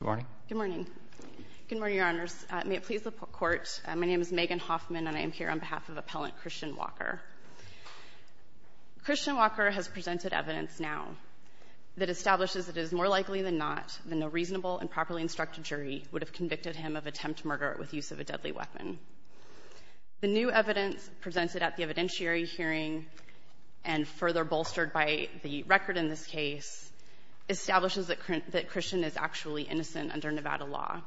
Good morning. Good morning, Your Honors. May it please the Court, my name is Megan Hoffman and I am here on behalf of Appellant Christian Walker. Christian Walker has presented evidence now that establishes it is more likely than not that no reasonable and properly instructed jury would have convicted him of attempt to murder with use of a deadly weapon. The new evidence presented at the evidentiary hearing and further bolstered by the record in this case establishes that Christian is actually innocent under Nevada law.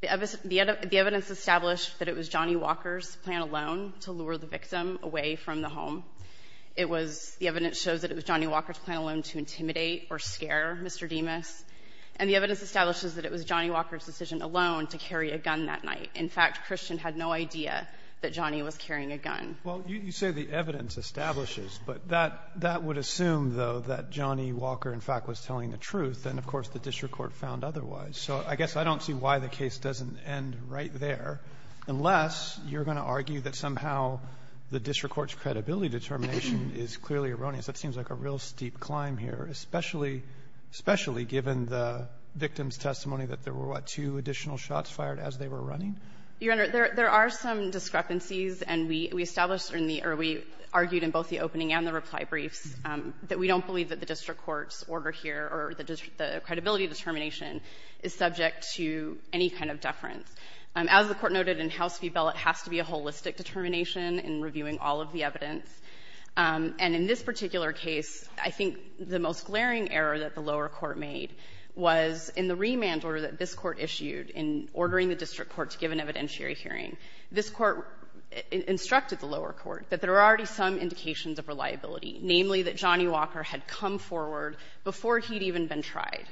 The evidence established that it was Johnny Walker's plan alone to lure the victim away from the home. It was the evidence shows that it was Johnny Walker's plan alone to intimidate or scare Mr. Demas. And the evidence establishes that it was Johnny Walker's decision alone to carry a gun that night. In fact, Christian had no idea that Johnny was carrying a gun. Well, you say the evidence establishes, but that that would assume, though, that Johnny Walker, in fact, was telling the truth. And, of course, the district court found otherwise. So I guess I don't see why the case doesn't end right there unless you're going to argue that somehow the district court's credibility determination is clearly erroneous. That seems like a real steep climb here, especially — especially given the victim's testimony that there were, what, two additional shots fired as they were running? Your Honor, there are some discrepancies, and we established in the — or we argued in both the opening and the reply briefs that we don't believe that the district court's order here or the credibility determination is subject to any kind of deference. As the Court noted in House v. Bell, it has to be a holistic determination in reviewing all of the evidence. And in this particular case, I think the most glaring error that the lower court made was in the remand order that this Court issued in ordering the district court to give an evidentiary hearing. This Court instructed the lower court that there are already some indications of reliability, namely that Johnny Walker had come forward before he'd even been tried.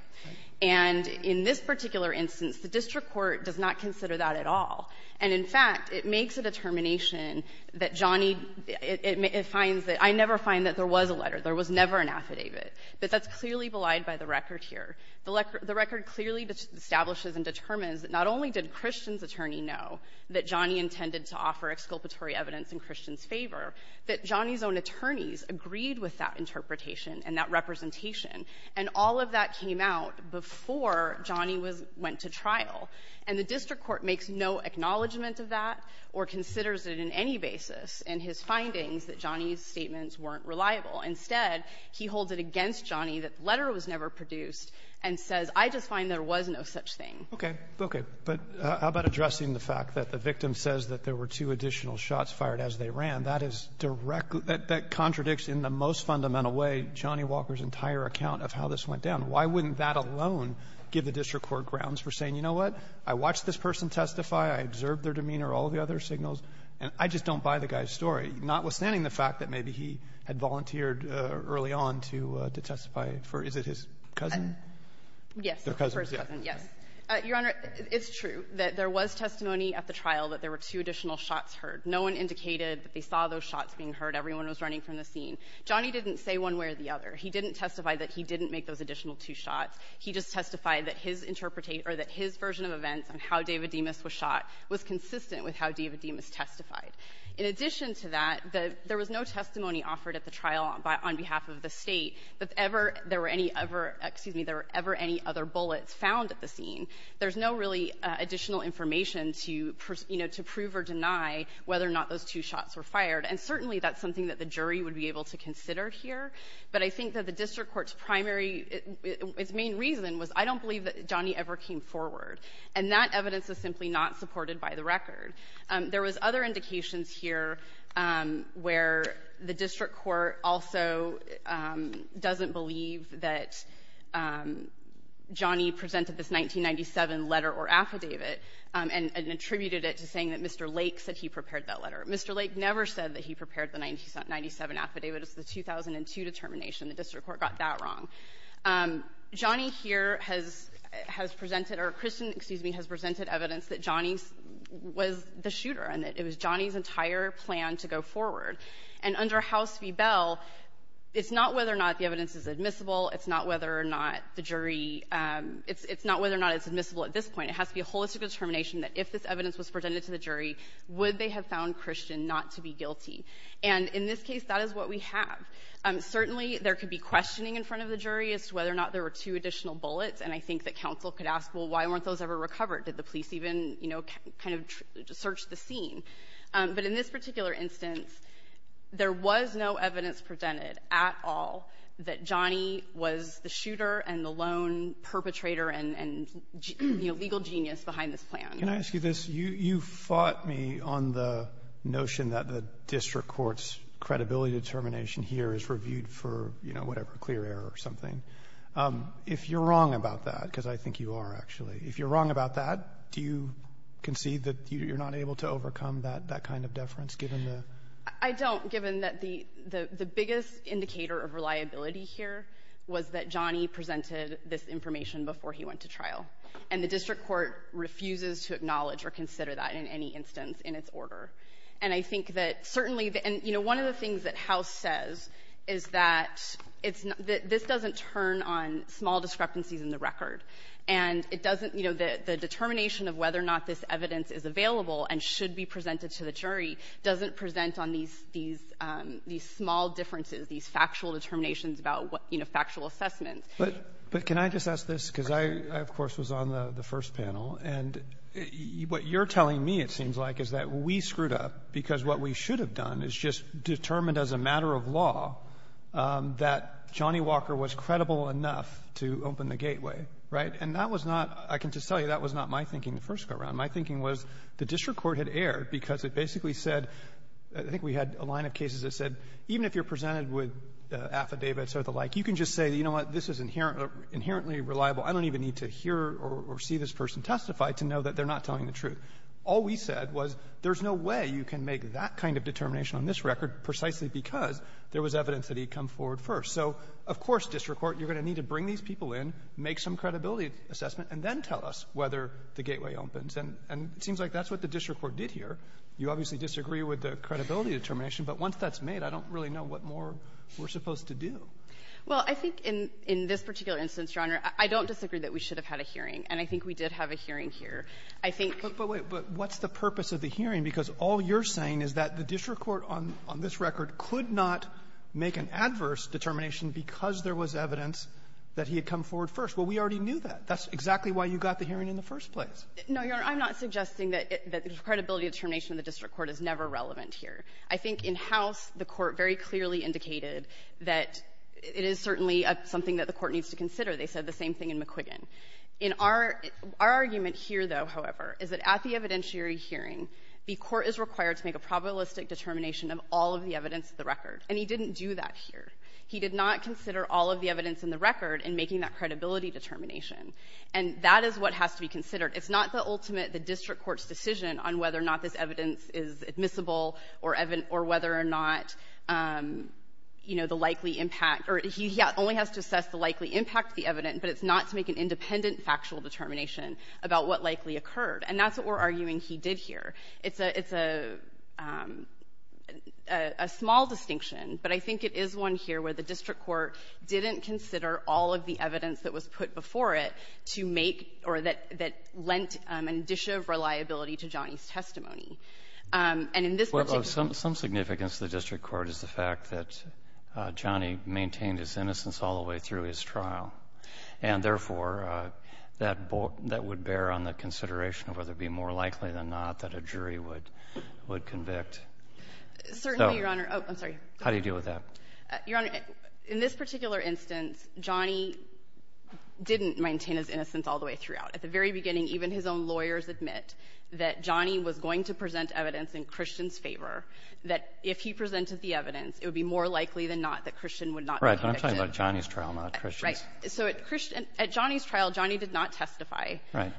And in this particular instance, the district court does not consider that at all. And, in fact, it makes a determination that Johnny — it finds that — I never find that there was a letter. There was never an affidavit. But that's clearly belied by the record here. The record clearly establishes and determines that not only did Christian's attorney know that Johnny intended to offer exculpatory evidence in Christian's favor, that Johnny's own attorneys agreed with that interpretation and that representation. And all of that came out before Johnny was — went to trial. And the district court makes no acknowledgment of that or considers it in any basis in his findings that Johnny's statements weren't reliable. Instead, he holds it against Johnny that the letter was never produced and says, I just find there was no such thing. Roberts. Okay. Okay. But how about addressing the fact that the victim says that there were two additional shots fired as they ran? That is directly — that contradicts in the most fundamental way Johnny Walker's entire account of how this went down. Why wouldn't that alone give the district court grounds for saying, you know what, I watched this person testify, I observed their demeanor, all of the other signals, and I just don't buy the guy's story, notwithstanding the fact that maybe he had volunteered early on to — to testify for — is it his cousin? Yes, the first cousin, yes. Their cousins, yeah. Your Honor, it's true that there was testimony at the trial that there were two additional shots heard. No one indicated that they saw those shots being heard. Everyone was running from the scene. Johnny didn't say one way or the other. He didn't testify that he didn't make those additional two shots. He just testified that his interpretation — or that his version of events on how David Demas was shot was consistent with how David Demas testified. In addition to that, there was no testimony offered at the trial on behalf of the State that ever there were any other — excuse me — there were ever any other bullets found at the scene. There's no really additional information to, you know, to prove or deny whether or not those two shots were fired. And certainly that's something that the jury would be able to consider here. But I think that the district court's primary — its main reason was, I don't believe that Johnny ever came forward. And that evidence is simply not supported by the record. There was other indications here where the district court also doesn't believe that Johnny presented this 1997 letter or affidavit and attributed it to saying that Mr. Lake said he prepared that letter. Mr. Lake never said that he prepared the 1997 affidavit. It was the 2002 determination. The district court got that wrong. Johnny here has — has presented — or Kristen, excuse me, has presented evidence that Johnny was the shooter and that it was Johnny's entire plan to go forward. And under House v. Bell, it's not whether or not the evidence is admissible. It's not whether or not the jury — it's not whether or not it's admissible at this point. It has to be a holistic determination that if this evidence was presented to the jury, would they have found Kristen not to be guilty. And in this case, that is what we have. Certainly, there could be questioning in front of the jury as to whether or not there were two additional bullets. And I think that counsel could ask, well, why weren't those ever recovered? Did the police even, you know, kind of search the scene? But in this particular instance, there was no evidence presented at all that Johnny was the shooter and the lone perpetrator and — and, you know, legal genius behind this plan. Roberts, can I ask you this? You — you fought me on the notion that the district court's credibility determination here is reviewed for, you know, whatever, clear error or something. If you're wrong about that, because I think you are, actually, if you're wrong about that, do you concede that you're not able to overcome that — that kind of deference, given the — I don't, given that the — the biggest indicator of reliability here was that Johnny presented this information before he went to trial. And the district court refuses to acknowledge or consider that in any instance in its order. And I think that certainly — and, you know, one of the things that House says is that it's — that this doesn't turn on small discrepancies in the record. And it doesn't — you know, the determination of whether or not this evidence is available and should be presented to the jury doesn't present on these — these small differences, these factual determinations about, you know, factual assessments. Roberts. But can I just ask this? Because I, of course, was on the first panel. And what you're telling me, it seems like, is that we screwed up because what we should have done is just determined as a matter of law that Johnny Walker was credible enough to open the gateway. Right? And that was not — I can just tell you that was not my thinking the first go-round. My thinking was the district court had erred because it basically said — I think we had a line of cases that said even if you're presented with affidavits or the like, you can just say, you know what, this is inherently reliable. I don't even need to hear or see this person testify to know that they're not telling the truth. All we said was there's no way you can make that kind of determination on this record precisely because there was evidence that he'd come forward first. So, of course, district court, you're going to need to bring these people in, make some credibility assessment, and then tell us whether the gateway opens. And it seems like that's what the district court did here. You obviously disagree with the credibility determination. But once that's made, I don't really know what more we're supposed to do. Well, I think in this particular instance, Your Honor, I don't disagree that we should have had a hearing. And I think we did have a hearing here. I think — But wait. But what's the purpose of the hearing? Because all you're saying is that the district court on this record could not make an adverse determination because there was evidence that he had come forward first. Well, we already knew that. That's exactly why you got the hearing in the first place. No, Your Honor. I'm not suggesting that the credibility determination of the district court is never relevant here. I think in House, the Court very clearly indicated that it is certainly something that the Court needs to consider. They said the same thing in McQuiggan. In our — our argument here, though, however, is that at the evidentiary hearing, the Court is required to make a probabilistic determination of all of the evidence of the record. And he didn't do that here. He did not consider all of the evidence in the record in making that credibility determination. And that is what has to be considered. It's not the ultimate — the district court's decision on whether or not this evidence is admissible or whether or not, you know, the likely impact — or he only has to assess the likely impact of the evidence, but it's not to make an independent factual determination about what likely occurred. And that's what we're arguing he did here. It's a — it's a small distinction, but I think it is one here where the district court didn't consider all of the evidence that was put before it to make — or that lent a dish of reliability to Johnny's testimony. And in this particular case — Well, of some significance to the district court is the fact that Johnny maintained his innocence all the way through his trial, and, therefore, that would bear on the consideration of whether it would be more likely than not that a jury would convict. Certainly, Your Honor. Oh, I'm sorry. How do you deal with that? Your Honor, in this particular instance, Johnny didn't maintain his innocence all the way throughout. At the very beginning, even his own lawyers admit that Johnny was going to present evidence in Christian's favor, that if he presented the evidence, it would be more likely than not that Christian would not be convicted. Right. But I'm talking about Johnny's trial, not Christian's. Right. So at Christian — at Johnny's trial, Johnny did not testify. Right.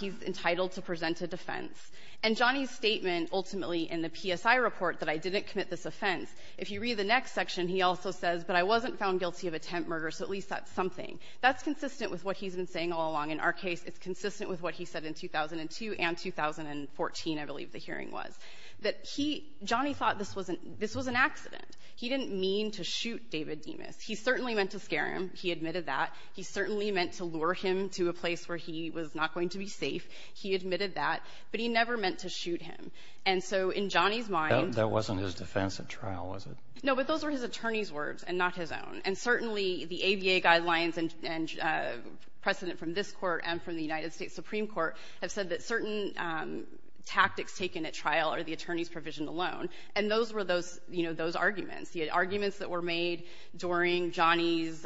He's entitled to present a defense. And Johnny's statement ultimately in the PSI report that I didn't commit this offense, if you read the next section, he also says, but I wasn't found guilty of attempt murder, so at least that's something. That's consistent with what he's been saying all along. In our case, it's consistent with what he said in 2002 and 2014, I believe the hearing was, that he — Johnny thought this was an — this was an accident. He didn't mean to shoot David Demas. He certainly meant to scare him. He admitted that. He certainly meant to lure him to a place where he was not going to be safe. He admitted that. But he never meant to shoot him. And so in Johnny's mind — That wasn't his defense at trial, was it? No, but those were his attorney's words and not his own. And certainly, the ABA guidelines and precedent from this Court and from the United States Supreme Court have said that certain tactics taken at trial are the attorney's provision alone, and those were those — you know, those arguments. The arguments that were made during Johnny's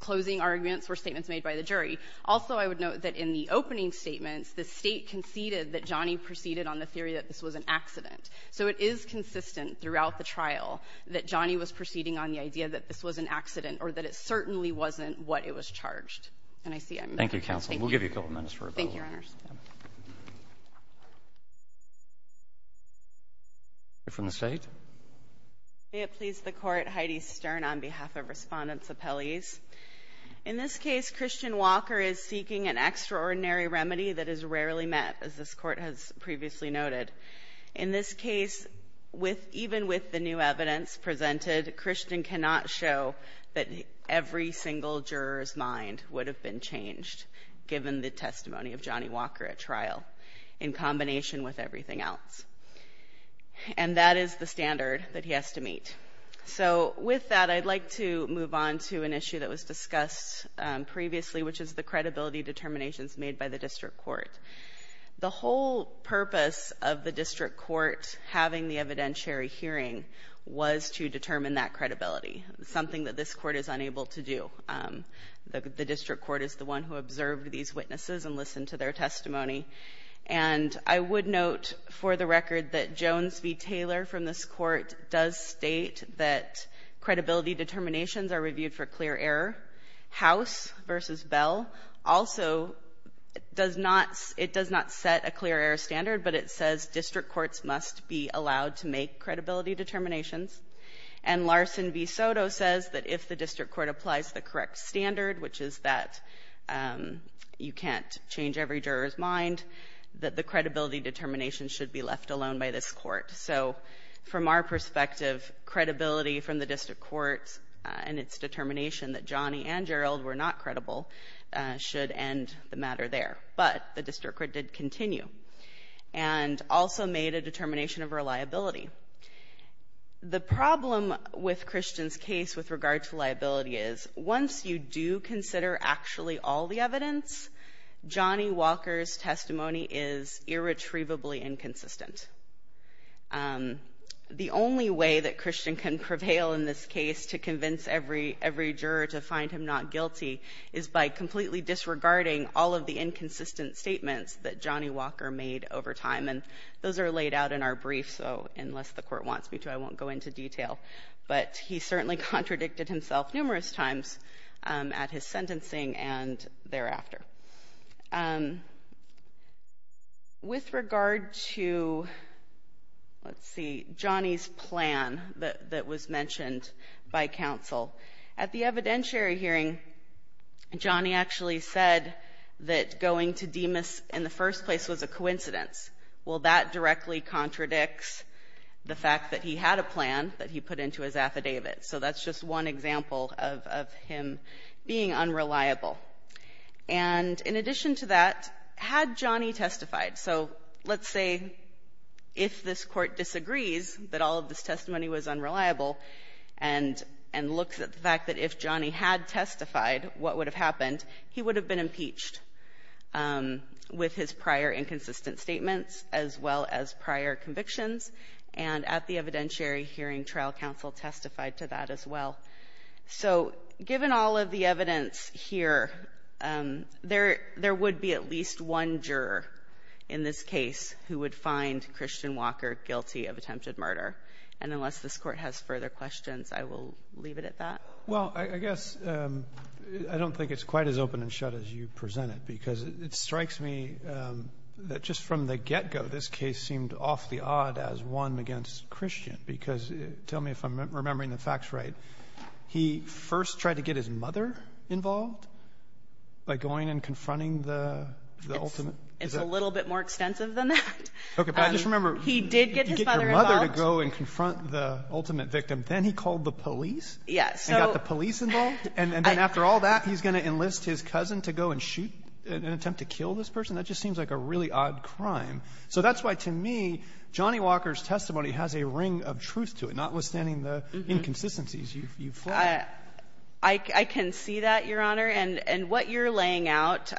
closing arguments were statements made by the jury. Also, I would note that in the opening statements, the State conceded that Johnny proceeded on the theory that this was an accident. So it is consistent throughout the trial that Johnny was proceeding on the idea that this was an accident or that it certainly wasn't what it was charged. And I see I'm — Thank you, counsel. We'll give you a couple minutes for a vote. Thank you, Your Honors. You're from the State. May it please the Court, Heidi Stern on behalf of Respondents' Appellees. In this case, Christian Walker is seeking an extraordinary remedy that is rarely met, as this Court has previously noted. In this case, with — even with the new evidence presented, Christian cannot show that every single juror's mind would have been changed given the testimony of Johnny Walker at trial, in combination with everything else. And that is the standard that he has to meet. So with that, I'd like to move on to an issue that was discussed previously, which is the credibility determinations made by the district court. The whole purpose of the district court having the evidentiary hearing was to determine that credibility, something that this court is unable to do. The district court is the one who observed these witnesses and listened to their testimony. And I would note, for the record, that Jones v. Taylor from this court does state that credibility determinations are reviewed for clear error. House v. Bell also does not — it does not set a clear error standard, but it says district courts must be allowed to make credibility determinations. And Larson v. Soto says that if the district court applies the correct standard, which is that you can't change every juror's mind, that the credibility determination should be left alone by this court. So from our perspective, credibility from the district court and its determination that Johnny and Gerald were not credible should end the matter there. But the district court did continue and also made a determination of reliability. The problem with Christian's case with regard to liability is, once you do consider actually all the evidence, Johnny Walker's testimony is irretrievably inconsistent. The only way that Christian can prevail in this case to convince every juror to find him not guilty is by completely disregarding all of the inconsistent statements that Johnny Walker made over time. And those are laid out in our brief, so unless the court wants me to, I won't go into detail. But he certainly contradicted himself numerous times at his sentencing and thereafter. With regard to, let's see, Johnny's plan that was mentioned by counsel, at the evidentiary hearing, Johnny actually said that going to DEMAS in the first place was a coincidence. Well, that directly contradicts the fact that he had a plan that he put into his affidavit. So that's just one example of him being unreliable. And in addition to that, had Johnny testified, so let's say if this Court disagrees that all of this testimony was unreliable and looks at the fact that if Johnny had testified, what would have happened? He would have been impeached with his prior inconsistent statements as well as prior convictions, and at the evidentiary hearing, trial counsel testified to that as well. So given all of the evidence here, there would be at least one juror in this case who would find Christian Walker guilty of attempted murder. And unless this Court has further questions, I will leave it at that. Roberts. Well, I guess I don't think it's quite as open and shut as you presented, because it strikes me that just from the get-go, this case seemed off the odd as one against Christian, because tell me if I'm remembering the facts right. He first tried to get his mother involved by going and confronting the ultimate. It's a little bit more extensive than that. Okay. But I just remember he did get his mother to go and confront the ultimate victim. Then he called the police. Yes. And got the police involved. And then after all that, he's going to enlist his cousin to go and shoot an attempt to kill this person. That just seems like a really odd crime. So that's why, to me, Johnny Walker's testimony has a ring of truth to it, not withstanding the inconsistencies you've flagged. I can see that, Your Honor. And what you're laying out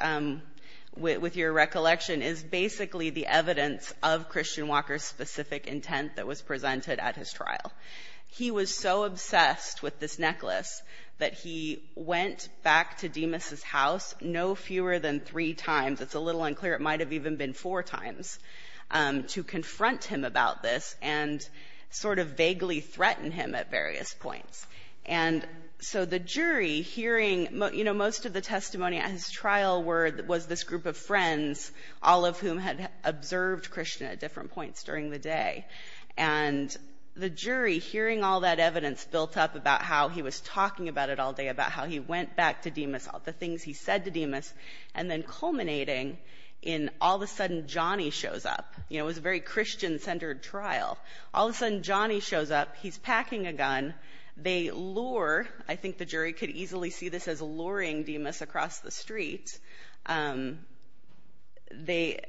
with your recollection is basically the evidence of Christian Walker's specific intent that was presented at his trial. He was so obsessed with this necklace that he went back to Demas' house no fewer than three times. It's a little unclear. It might have even been four times, to confront him about this and sort of vaguely threaten him at various points. And so the jury, hearing, you know, most of the testimony at his trial was this group of friends, all of whom had observed Krishna at different points during the day. And the jury, hearing all that evidence built up about how he was talking about it all day, about how he went back to Demas, all the things he said to Demas, and then culminating in all of a sudden Johnny shows up. You know, it was a very Christian-centered trial. All of a sudden Johnny shows up. He's packing a gun. They lure, I think the jury could easily see this as luring Demas across the street. They,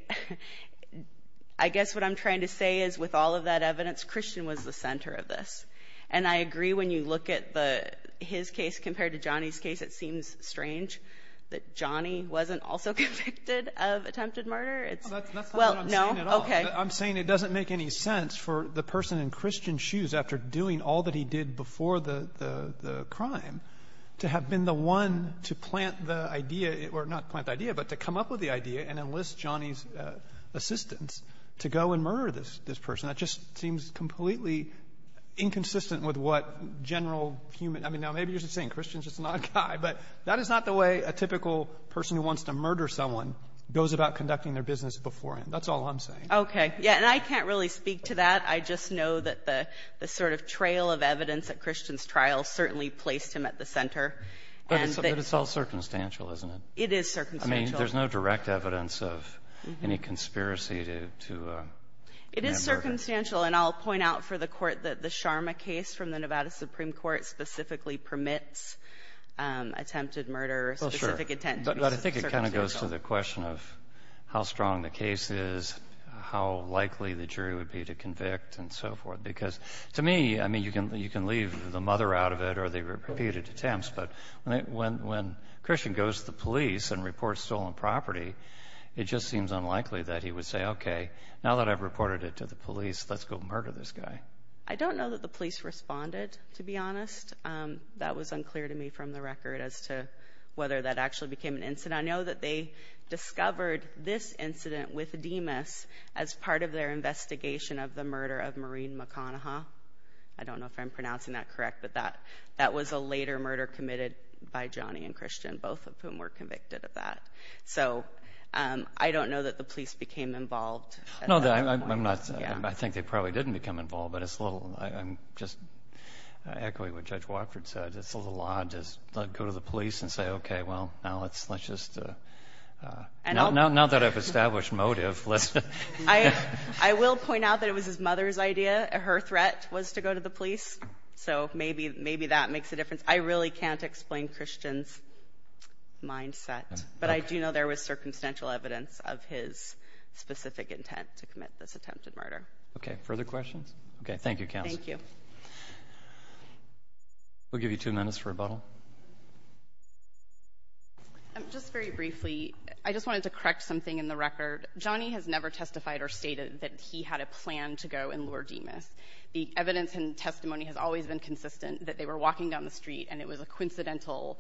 I guess what I'm trying to say is with all of that evidence, Christian was the center of this. And I agree when you look at his case compared to Johnny's case. It seems strange that Johnny wasn't also convicted of attempted murder. That's not what I'm saying at all. Okay. I'm saying it doesn't make any sense for the person in Christian's shoes, after doing all that he did before the crime, to have been the one to plant the idea or not plant the idea, but to come up with the idea and enlist Johnny's assistance to go and murder this person. That just seems completely inconsistent with what general human – I mean, now maybe you're just saying Christian's just not a guy, but that is not the way a typical person who wants to murder someone goes about conducting their business beforehand. That's all I'm saying. Okay. Yeah. And I can't really speak to that. I just know that the sort of trail of evidence at Christian's trial certainly placed him at the center. But it's all circumstantial, isn't it? It is circumstantial. I mean, there's no direct evidence of any conspiracy to – It is circumstantial. And I'll point out for the Court that the Sharma case from the Nevada Supreme Court specifically permits attempted murder or specific intentions. Well, sure. But I think it kind of goes to the question of how strong the case is, how likely the jury would be to convict and so forth. Because to me, I mean, you can leave the mother out of it or the repeated attempts, but when Christian goes to the police and reports stolen property, it just seems unlikely that he would say, okay, now that I've reported it to the police, let's go murder this guy. I don't know that the police responded, to be honest. That was unclear to me from the record as to whether that actually became an incident. I know that they discovered this incident with Dimas as part of their investigation of the murder of Maureen McConaughey. I don't know if I'm pronouncing that correct, but that was a later murder committed by Johnny and Christian, both of whom were convicted of that. So I don't know that the police became involved at that point. I think they probably didn't become involved, but I'm just echoing what Judge Watford said. It's a little odd to go to the police and say, okay, well, now let's just – now that I've established motive, let's – I will point out that it was his mother's idea. Her threat was to go to the police. So maybe that makes a difference. I really can't explain Christian's mindset, but I do know there was an attempt at this attempted murder. Okay. Further questions? Okay. Thank you, counsel. Thank you. We'll give you two minutes for rebuttal. Just very briefly, I just wanted to correct something in the record. Johnny has never testified or stated that he had a plan to go and lure Dimas. The evidence and testimony has always been consistent that they were walking down the street and it was a coincidental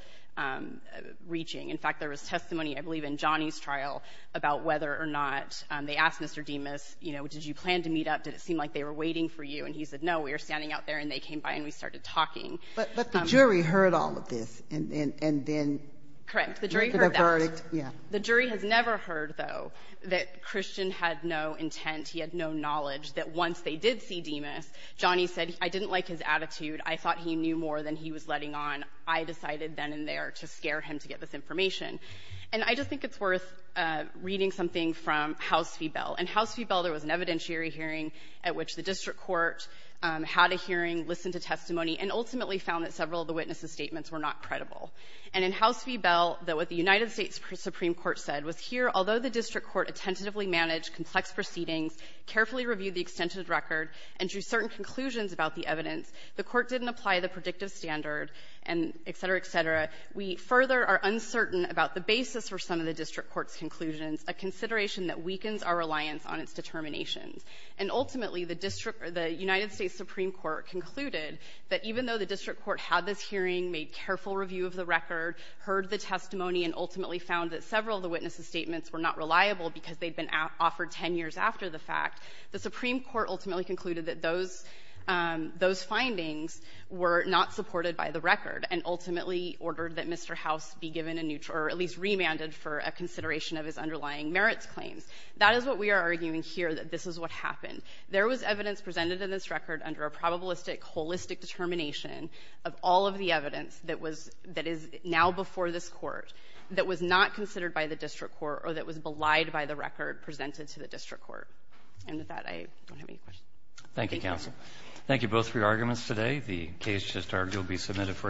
reaching. In fact, there was testimony, I believe in Johnny's trial, about whether or not they asked Mr. Dimas, you know, did you plan to meet up? Did it seem like they were waiting for you? And he said, no, we were standing out there and they came by and we started talking. But the jury heard all of this and then – Correct. The jury heard that. Yeah. The jury has never heard, though, that Christian had no intent, he had no knowledge that once they did see Dimas, Johnny said, I didn't like his attitude. I thought he knew more than he was letting on. I decided then and there to scare him to get this information. And I just think it's worth reading something from House v. Bell. In House v. Bell, there was an evidentiary hearing at which the district court had a hearing, listened to testimony, and ultimately found that several of the witnesses' statements were not credible. And in House v. Bell, what the United States Supreme Court said was, here, although the district court attentively managed complex proceedings, carefully reviewed the extended record, and drew certain conclusions about the evidence, the court didn't apply the predictive standard, and et cetera, et cetera. We further are uncertain about the basis for some of the district court's conclusions, a consideration that weakens our reliance on its determinations. And ultimately, the district – the United States Supreme Court concluded that even though the district court had this hearing, made careful review of the record, heard the testimony, and ultimately found that several of the witnesses' statements were not reliable because they'd been offered 10 years after the fact, the Supreme Court ultimately concluded that those – those findings were not supported by the district court, and ordered that Mr. House be given a new – or at least remanded for a consideration of his underlying merits claims. That is what we are arguing here, that this is what happened. There was evidence presented in this record under a probabilistic, holistic determination of all of the evidence that was – that is now before this Court, that was not considered by the district court, or that was belied by the record presented to the district court. And with that, I don't have any questions. Roberts. Thank you, counsel. Thank you both for your arguments today. The case just argued will be submitted for decision. Thank you.